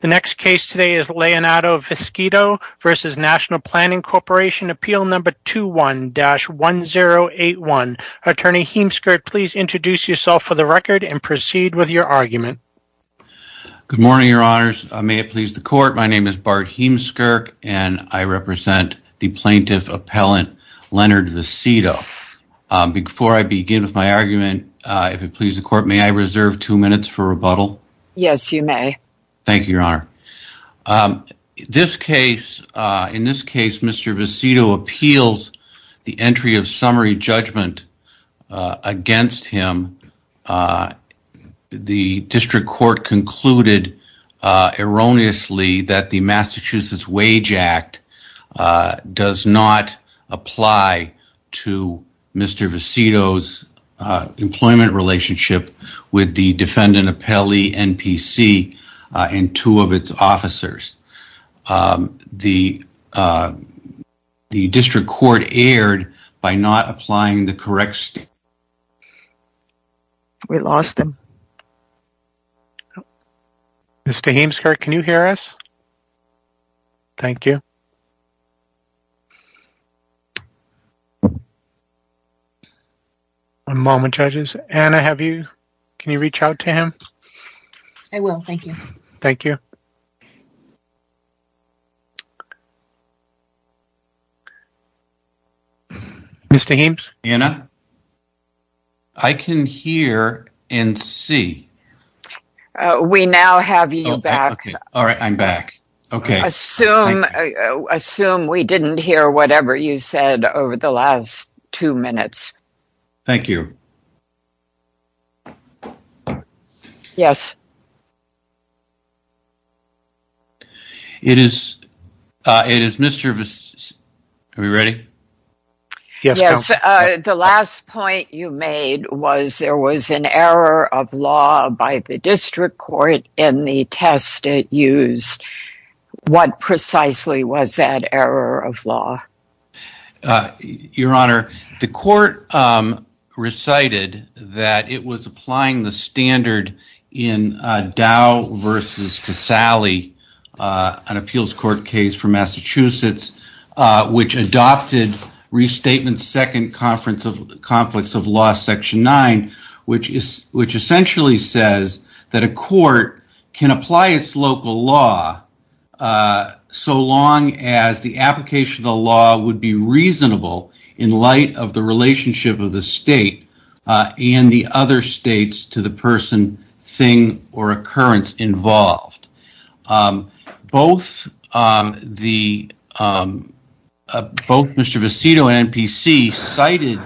The next case today is Leonardo Viscito v. National Planning Corporation, Appeal Number 21-1081. Attorney Heemskirk, please introduce yourself for the record and proceed with your argument. Good morning, Your Honors. May it please the Court, my name is Bart Heemskirk and I represent the Plaintiff Appellant Leonard Viscito. Before I begin with my argument, if it pleases the Court, may I reserve two minutes for rebuttal? Yes, you may. Thank you, Your Honor. In this case, Mr. Viscito appeals the entry of summary judgment against him. The District Court concluded erroneously that the Massachusetts Wage Act does not apply to Mr. Viscito's employment relationship with the defendant appellee, NPC, and two of its officers. The District Court erred by not applying the correct statement. We lost him. Mr. Heemskirk, can you hear us? Thank you. One moment, judges. Anna, can you reach out to him? I will. Thank you. Thank you. Mr. Heems? Anna? I can hear and see. We now have you back. All right. I'm back. Okay. Thank you. I assume we didn't hear whatever you said over the last two minutes. Thank you. Yes. It is Mr. Viscito. Are we ready? Yes. Yes. The last point you made was there was an error of law by the District Court in the test it What precisely was that error of law? Your Honor, the Court recited that it was applying the standard in Dow v. Casale, an appeals court case from Massachusetts, which adopted Restatement Second Conflicts of Law Section 9, which essentially says that a court can apply its local law so long as the application of the law would be reasonable in light of the relationship of the state and the other states to the person, thing, or occurrence involved. Both Mr. Viscito and NPC cited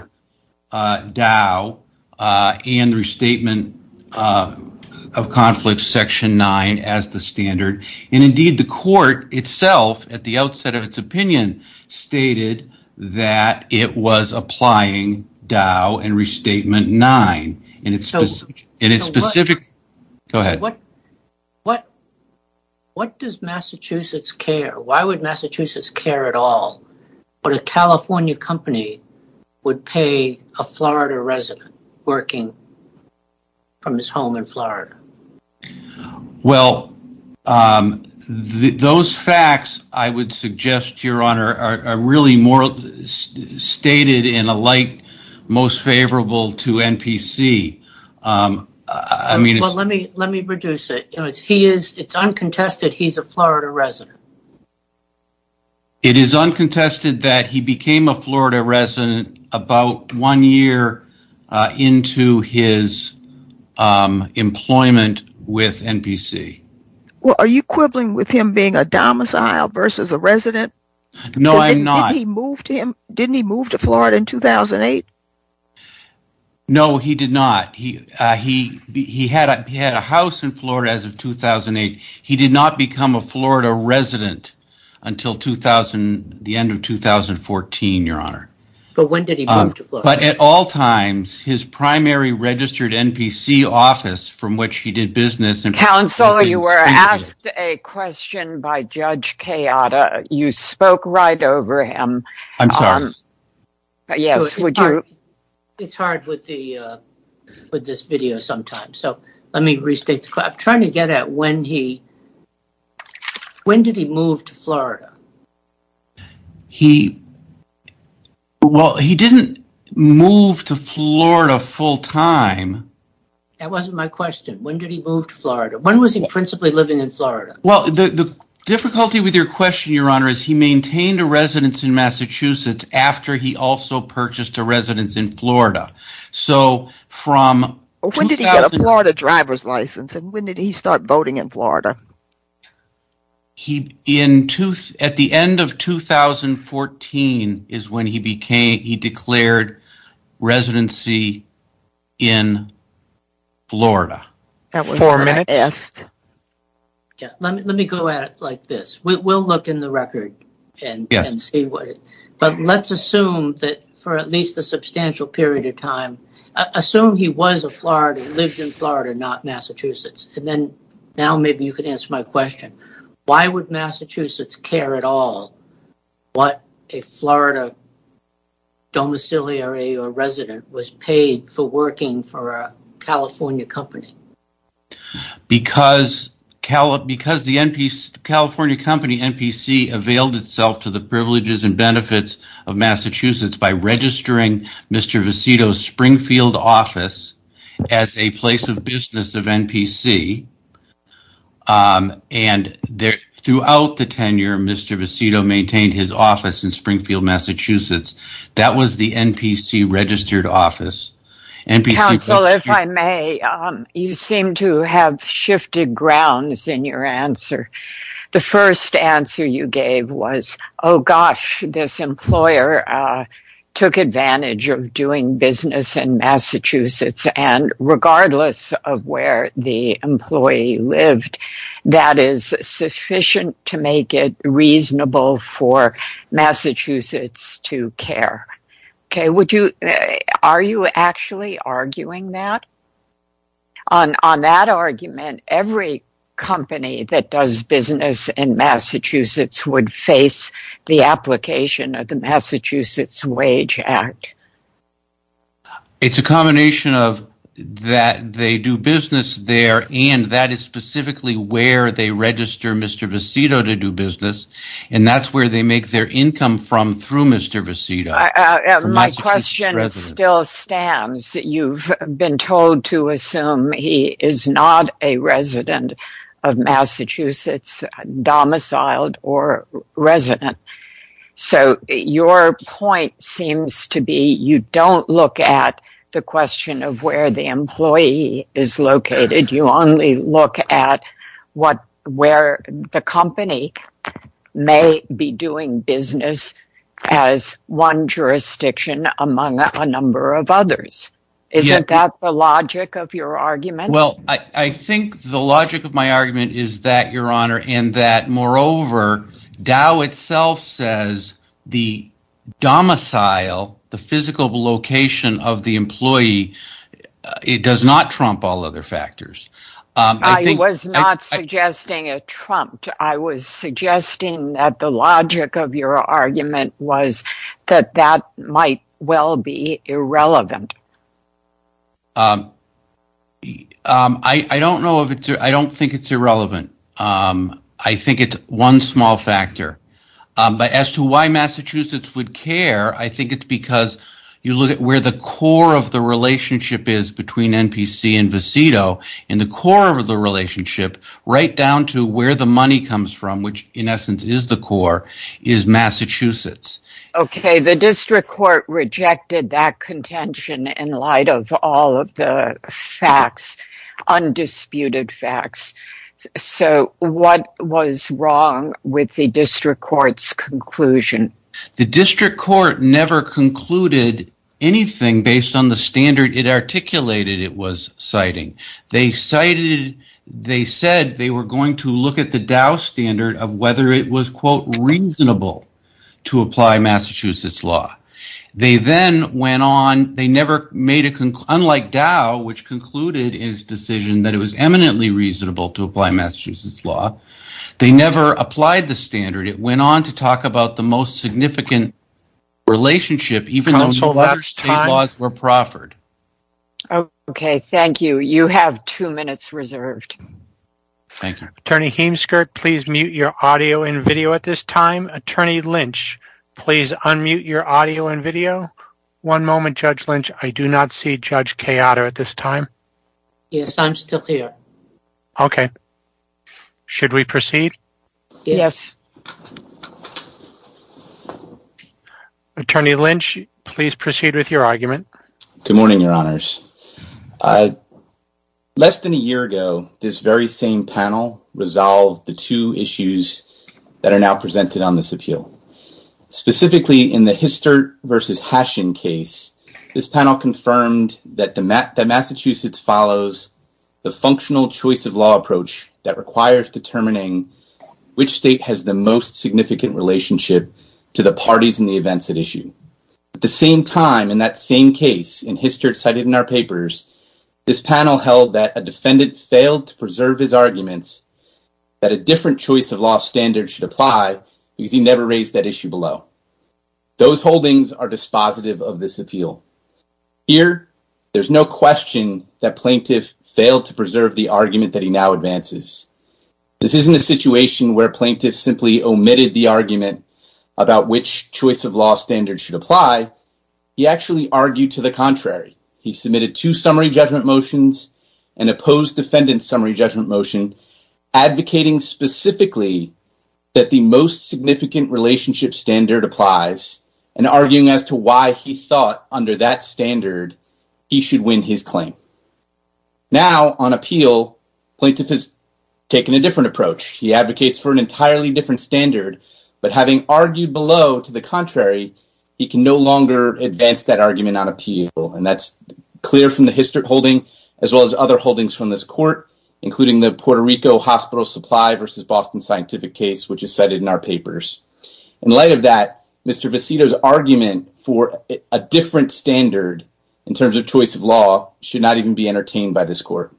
Dow and Restatement of Conflicts Section 9 as the standard, and indeed the Court itself, at the outset of its opinion, stated that it was applying Dow and Restatement 9 in its specific Go ahead. Why would Massachusetts care at all that a California company would pay a Florida resident working from his home in Florida? Those facts, I would suggest, Your Honor, are really stated in a light most favorable to NPC. Well, let me reduce it. It's uncontested he's a Florida resident. It is uncontested that he became a Florida resident about one year into his employment with NPC. Well, are you quibbling with him being a domicile versus a resident? No, I'm not. Didn't he move to Florida in 2008? No, he did not. He had a house in Florida as of 2008. He did not become a Florida resident until the end of 2014, Your Honor. But when did he move to Florida? But at all times, his primary registered NPC office from which he did business... Counselor, you were asked a question by Judge Kayada. You spoke right over him. I'm sorry. Yes, would you? It's hard with this video sometimes, so let me restate the question. I'm trying to get at when he... When did he move to Florida? He... Well, he didn't move to Florida full-time. That wasn't my question. When did he move to Florida? When was he principally living in Florida? Well, the difficulty with your question, Your Honor, is he maintained a residence in Massachusetts after he also purchased a residence in Florida. So, from... When did he get a Florida driver's license and when did he start voting in Florida? At the end of 2014 is when he declared residency in Florida. Four minutes. Yes. Let me go at it like this. We'll look in the record and see what... But let's assume that for at least a substantial period of time... Assume he was a Florida... Lived in Florida, not Massachusetts. And then now maybe you could answer my question. Why would Massachusetts care at all what a Florida domiciliary or resident was paid for working for a California company? Because the California company, NPC, availed itself to the privileges and benefits of Massachusetts by registering Mr. Vecito's Springfield office as a place of business of NPC. And throughout the tenure, Mr. Vecito maintained his office in Springfield, Massachusetts. That was the NPC registered office. Counsel, if I may, you seem to have shifted grounds in your answer. The first answer you gave was, oh gosh, this employer took advantage of doing business in Massachusetts and regardless of where the employee lived, that is sufficient to make it reasonable for Massachusetts to care. Are you actually arguing that? On that argument, every company that does business in Massachusetts would face the application of the Massachusetts Wage Act. It's a combination of that they do business there and that is specifically where they make their income from through Mr. Vecito. My question still stands. You've been told to assume he is not a resident of Massachusetts, domiciled or resident. So your point seems to be you don't look at the question of where the employee is located. You only look at where the company may be doing business as one jurisdiction among a number of others. Isn't that the logic of your argument? I think the logic of my argument is that, Your Honor, and that moreover, Dow itself says the domicile, the physical location of the employee does not trump all other factors. I was not suggesting it trumped. I was suggesting that the logic of your argument was that that might well be irrelevant. I don't think it's irrelevant. I think it's one small factor. But as to why Massachusetts would care, I think it's because you look at where the core of the relationship is between NPC and Vecito, and the core of the relationship right down to where the money comes from, which in essence is the core, is Massachusetts. The district court rejected that contention in light of all of the facts, undisputed facts. So what was wrong with the district court's conclusion? The district court never concluded anything based on the standard it articulated it was citing. They said they were going to look at the Dow standard of whether it was, quote, reasonable to apply Massachusetts law. They then went on, unlike Dow, which concluded its decision that it was eminently reasonable to apply Massachusetts law, they never applied the standard. It went on to talk about the most significant relationship, even though the other state laws were proffered. Okay, thank you. You have two minutes reserved. Attorney Heemskirk, please mute your audio and video at this time. Attorney Lynch, please unmute your audio and video. One moment, Judge Lynch. I do not see Judge Kayada at this time. Yes, I'm still here. Okay. Should we proceed? Yes. Attorney Lynch, please proceed with your argument. Good morning, Your Honors. Less than a year ago, this very same panel resolved the two issues that are now presented on this appeal. Specifically, in the Histert versus Hashin case, this panel confirmed that Massachusetts follows the functional choice of law approach that requires determining which state has the most significant relationship to the parties and the events at issue. At the same time, in that same case, in Histert cited in our papers, this panel held that a defendant failed to preserve his arguments that a different choice of law standard should apply because he never raised that issue below. Those holdings are dispositive of this appeal. Here, there's no question that plaintiff failed to preserve the argument that he now advances. This isn't a situation where plaintiff simply omitted the argument about which choice of law standard should apply. He actually argued to the contrary. He submitted two summary judgment motions and opposed defendant's summary judgment motion advocating specifically that the most significant relationship standard applies and arguing as to why he thought under that standard he should win his claim. Now, on appeal, plaintiff has taken a different approach. He advocates for an entirely different standard, but having argued below to the contrary, he can no longer advance that argument on appeal. And that's clear from the Histert holding as well as other holdings from this court, including the Puerto Rico Hospital Supply versus Boston Scientific case, which is cited in our papers. In light of that, Mr. Vecito's argument for a different standard in terms of choice of law should not even be entertained by this court.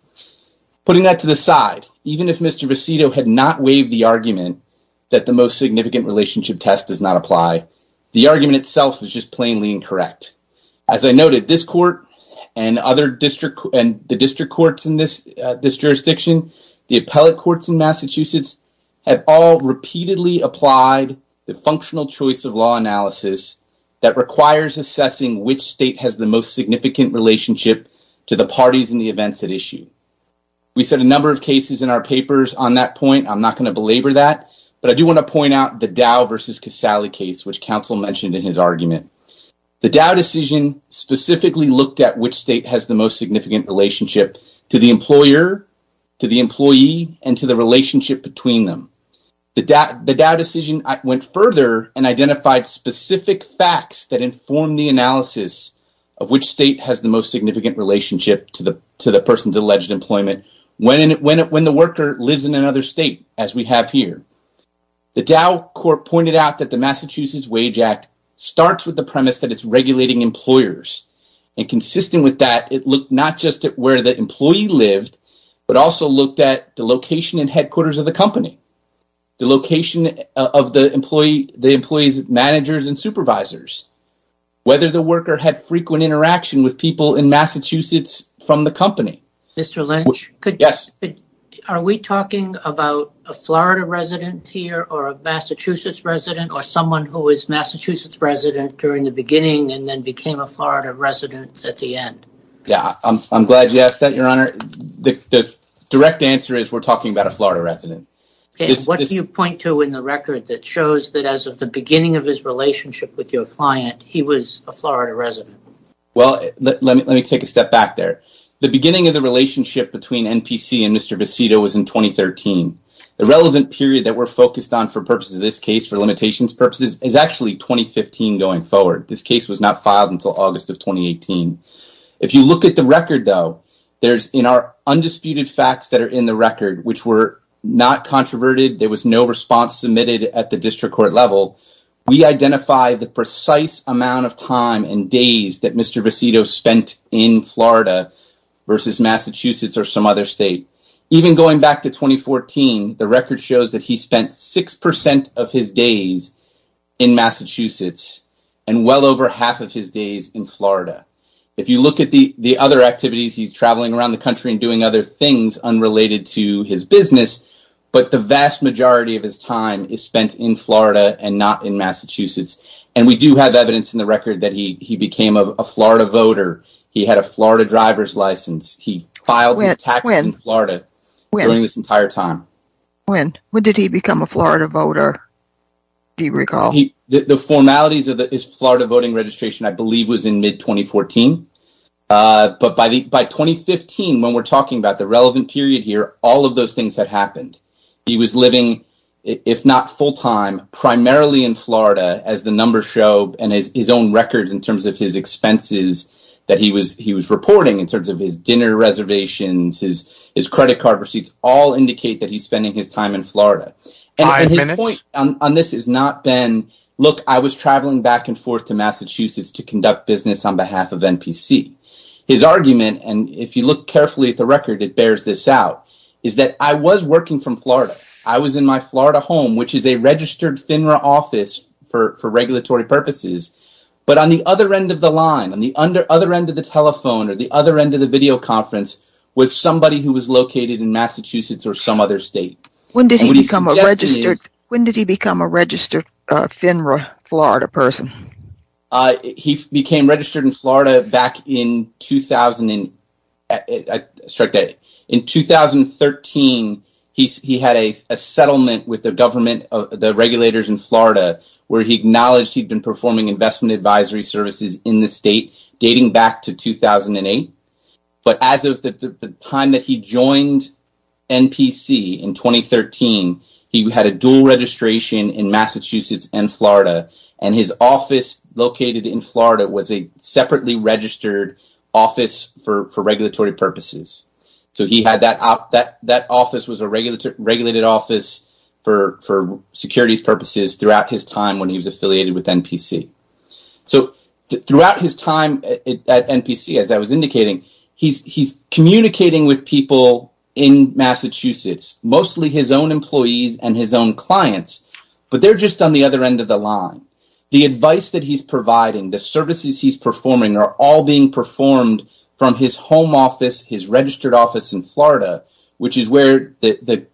Putting that to the side, even if Mr. Vecito had not waived the argument that the most significant relationship test does not apply, the argument itself is just plainly incorrect. As I noted, this court and the district courts in this jurisdiction, the appellate courts in Massachusetts have all repeatedly applied the functional choice of law analysis that requires assessing which state has the most significant relationship to the parties and the events at issue. We said a number of cases in our papers on that point. I'm not going to belabor that, but I do want to point out the Dow versus Casale case, which counsel mentioned in his argument. The Dow decision specifically looked at which state has the most significant relationship to the employer, to the employee, and to the relationship between them. The Dow decision went further and identified specific facts that informed the analysis of which state has the most significant relationship to the person's alleged employment when the worker lives in another state, as we have here. The Dow court pointed out that the Massachusetts Wage Act starts with the premise that it's regulating employers. Consistent with that, it looked not just at where the employee lived, but also looked at the location and headquarters of the company, the location of the employee's managers and supervisors, whether the worker had frequent interaction with people in Massachusetts from the company. Mr. Lynch, are we talking about a Florida resident here or a Massachusetts resident or someone who was a Massachusetts resident during the beginning and then became a Florida resident at the end? I'm glad you asked that, Your Honor. The direct answer is we're talking about a Florida resident. What do you point to in the record that shows that as of the beginning of his relationship with your client, he was a Florida resident? Let me take a step back there. The beginning of the relationship between NPC and Mr. Visito was in 2013. The relevant period that we're focused on for purposes of this case, for limitations purposes, is actually 2015 going forward. This case was not filed until August of 2018. If you look at the record, though, there's in our undisputed facts that are in the record, which were not controverted, there was no response submitted at the district court level. We identify the precise amount of time and days that Mr. Visito spent in Florida versus Massachusetts or some other state. Even going back to 2014, the record shows that he spent 6% of his days in Massachusetts and well over half of his days in Florida. If you look at the other activities, he's traveling around the country and doing other things unrelated to his business, but the vast majority of his time is spent in Florida and not in Massachusetts. And we do have evidence in the record that he became a Florida voter. He had a Florida driver's license. He filed his taxes in Florida during this entire time. When did he become a Florida voter? Do you recall? The formalities of his Florida voting registration, I believe, was in mid-2014. But by 2015, when we're talking about the relevant period here, all of those things had happened. He was living, if not full-time, primarily in Florida as the numbers show and his own records in terms of his expenses that he was reporting in terms of his dinner reservations, his credit card receipts, all indicate that he's spending his time in Florida. And his point on this has not been, look, I was traveling back and forth to Massachusetts to conduct business on behalf of NPC. His argument, and if you look carefully at the record, it bears this out, is that I was working from Florida. I was in my Florida home, which is a registered FINRA office for regulatory purposes. But on the other end of the line, on the other end of the telephone or the other end of the video conference was somebody who was located in Massachusetts or some other state. When did he become a registered FINRA Florida person? He became registered in Florida back in 2013. He had a settlement with the regulators in Florida where he acknowledged he'd been performing investment advisory services in the state dating back to 2008. But as of the time that he joined NPC in 2013, he had a dual registration in Massachusetts and Florida, and his office located in Florida was a separately registered office for regulatory purposes. So he had that office, that office was a regulated office for securities purposes throughout his time when he was affiliated with NPC. So throughout his time at NPC, as I was indicating, he's communicating with people in Massachusetts, mostly his own employees and his own clients. But they're just on the other end of the line. The advice that he's providing, the services he's performing are all being performed from his home office, his registered office in Florida, which is where the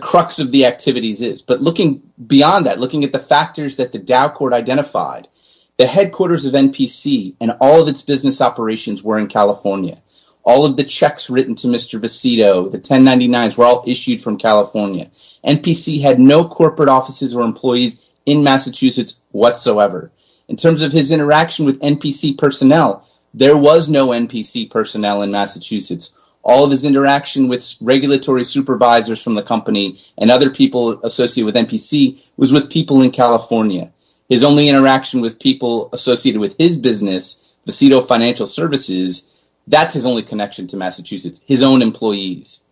crux of the activities is. But looking beyond that, looking at the factors that the Dow Court identified, the headquarters of NPC and all of its business operations were in California. All of the checks written to Mr. Busito, the 1099s were all issued from California. NPC had no corporate offices or employees in Massachusetts whatsoever. In terms of his interaction with NPC personnel, there was no NPC personnel in Massachusetts. All of his interaction with regulatory supervisors from the company and other people associated with NPC was with people in California. His only interaction with people associated with his business, Busito Financial Services, that's his only connection to Massachusetts, his own employees.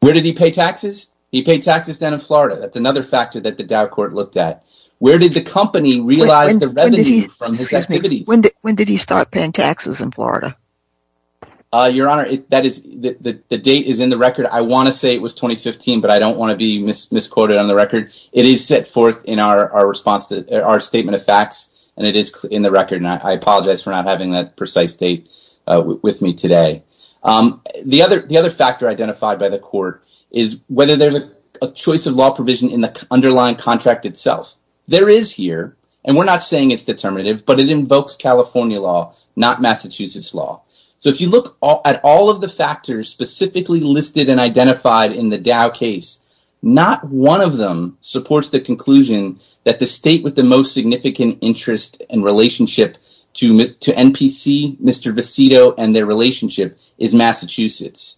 Where did he pay taxes? He paid taxes down in Florida. That's another factor that the Dow Court looked at. Where did the company realize the revenue from his activities? When did he start paying taxes in Florida? Your Honor, the date is in the record. I want to say it was 2015, but I don't want to be misquoted on the record. It is set forth in our statement of facts and it is in the record. I apologize for not having that precise date with me today. The other factor identified by the court is whether there's a choice of law provision in the underlying contract itself. There is here, and we're not saying it's determinative, but it invokes California law, not Massachusetts law. If you look at all of the factors specifically listed and identified in the Dow case, not one of them supports the conclusion that the state with the most significant interest and relationship to NPC, Mr. Vecito, and their relationship is Massachusetts.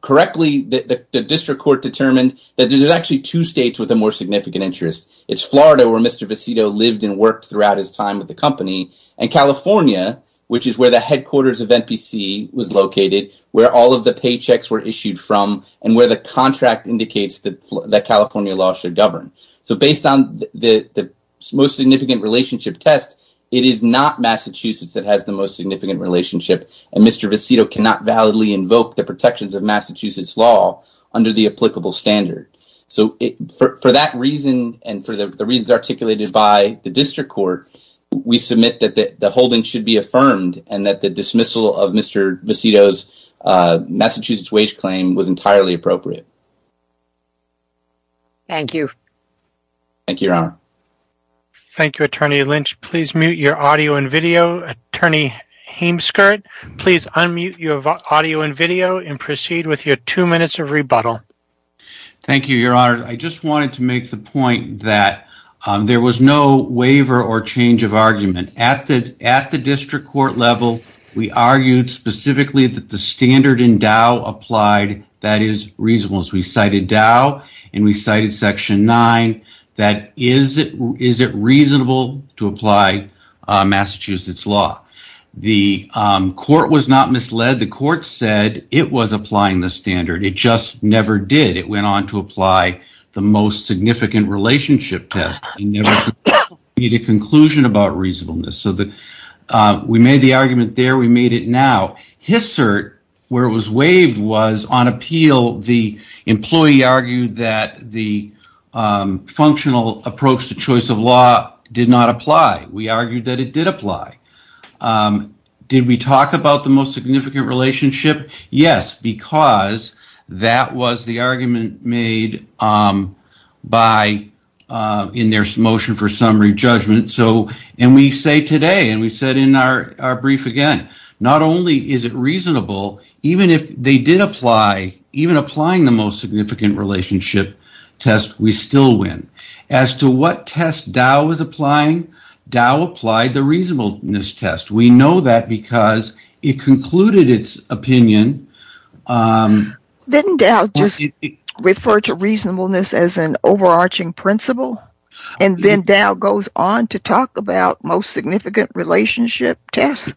Correctly, the district court determined that there are actually two states with a more significant interest. It's Florida, where Mr. Vecito lived and worked throughout his time with the company, and California, which is where the headquarters of NPC was located, where all of the paychecks were issued from, and where the contract indicates that California law should govern. Based on the most significant relationship test, it is not Massachusetts that has the most significant relationship, and Mr. Vecito cannot validly invoke the protections of Massachusetts law under the applicable standard. For that reason and for the reasons articulated by the district court, we submit that the holding should be affirmed and that the dismissal of Mr. Vecito's Massachusetts wage claim was entirely appropriate. Thank you. Thank you, Your Honor. Thank you, Attorney Lynch. Please mute your audio and video. Attorney Hameskirt, please unmute your audio and video and proceed with your two minutes of rebuttal. Thank you, Your Honor. I just wanted to make the point that there was no waiver or change of argument. At the district court level, we argued specifically that the standard in Dow applied that is reasonable. We cited Dow and we cited Section 9. Is it reasonable to apply Massachusetts law? The court was not misled. The court said it was applying the standard. It just never did. It went on to apply the most significant relationship test. We never made a conclusion about reasonableness. We made the argument there. We made it now. Hissert, where it was waived, was on appeal. The employee argued that the functional approach to choice of law did not apply. We argued that it did apply. Did we talk about the most significant relationship? Yes, because that was the argument made by in their motion for summary judgment. We say today and we said in our brief again, not only is it reasonable, even if they did apply, even applying the most significant relationship test, we still win. As to what test Dow was applying, Dow applied the reasonableness test. We know that because it concluded its opinion. Didn't Dow just refer to reasonableness as an overarching principle? And then Dow goes on to talk about most significant relationship test?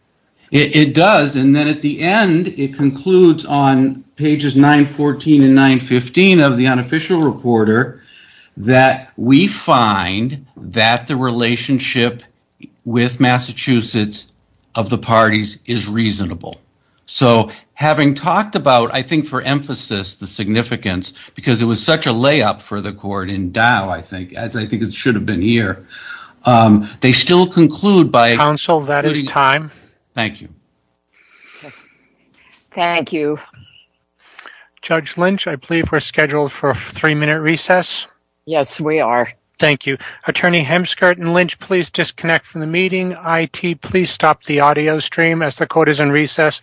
It does. And then at the end, it concludes on pages 914 and 915 of the unofficial reporter that we find that the relationship with Massachusetts of the parties is reasonable. So having talked about, I think for emphasis, the significance, because it was such a layup for the court in Dow, I think, as I think it should have been here, they still conclude by... Counsel, that is time. Thank you. Thank you. Judge Lynch, I believe we're scheduled for a three-minute recess. Yes, we are. Thank you. Attorney Hemskirt and Lynch, please disconnect from the meeting. IT, please stop the audio stream as the court is in recess.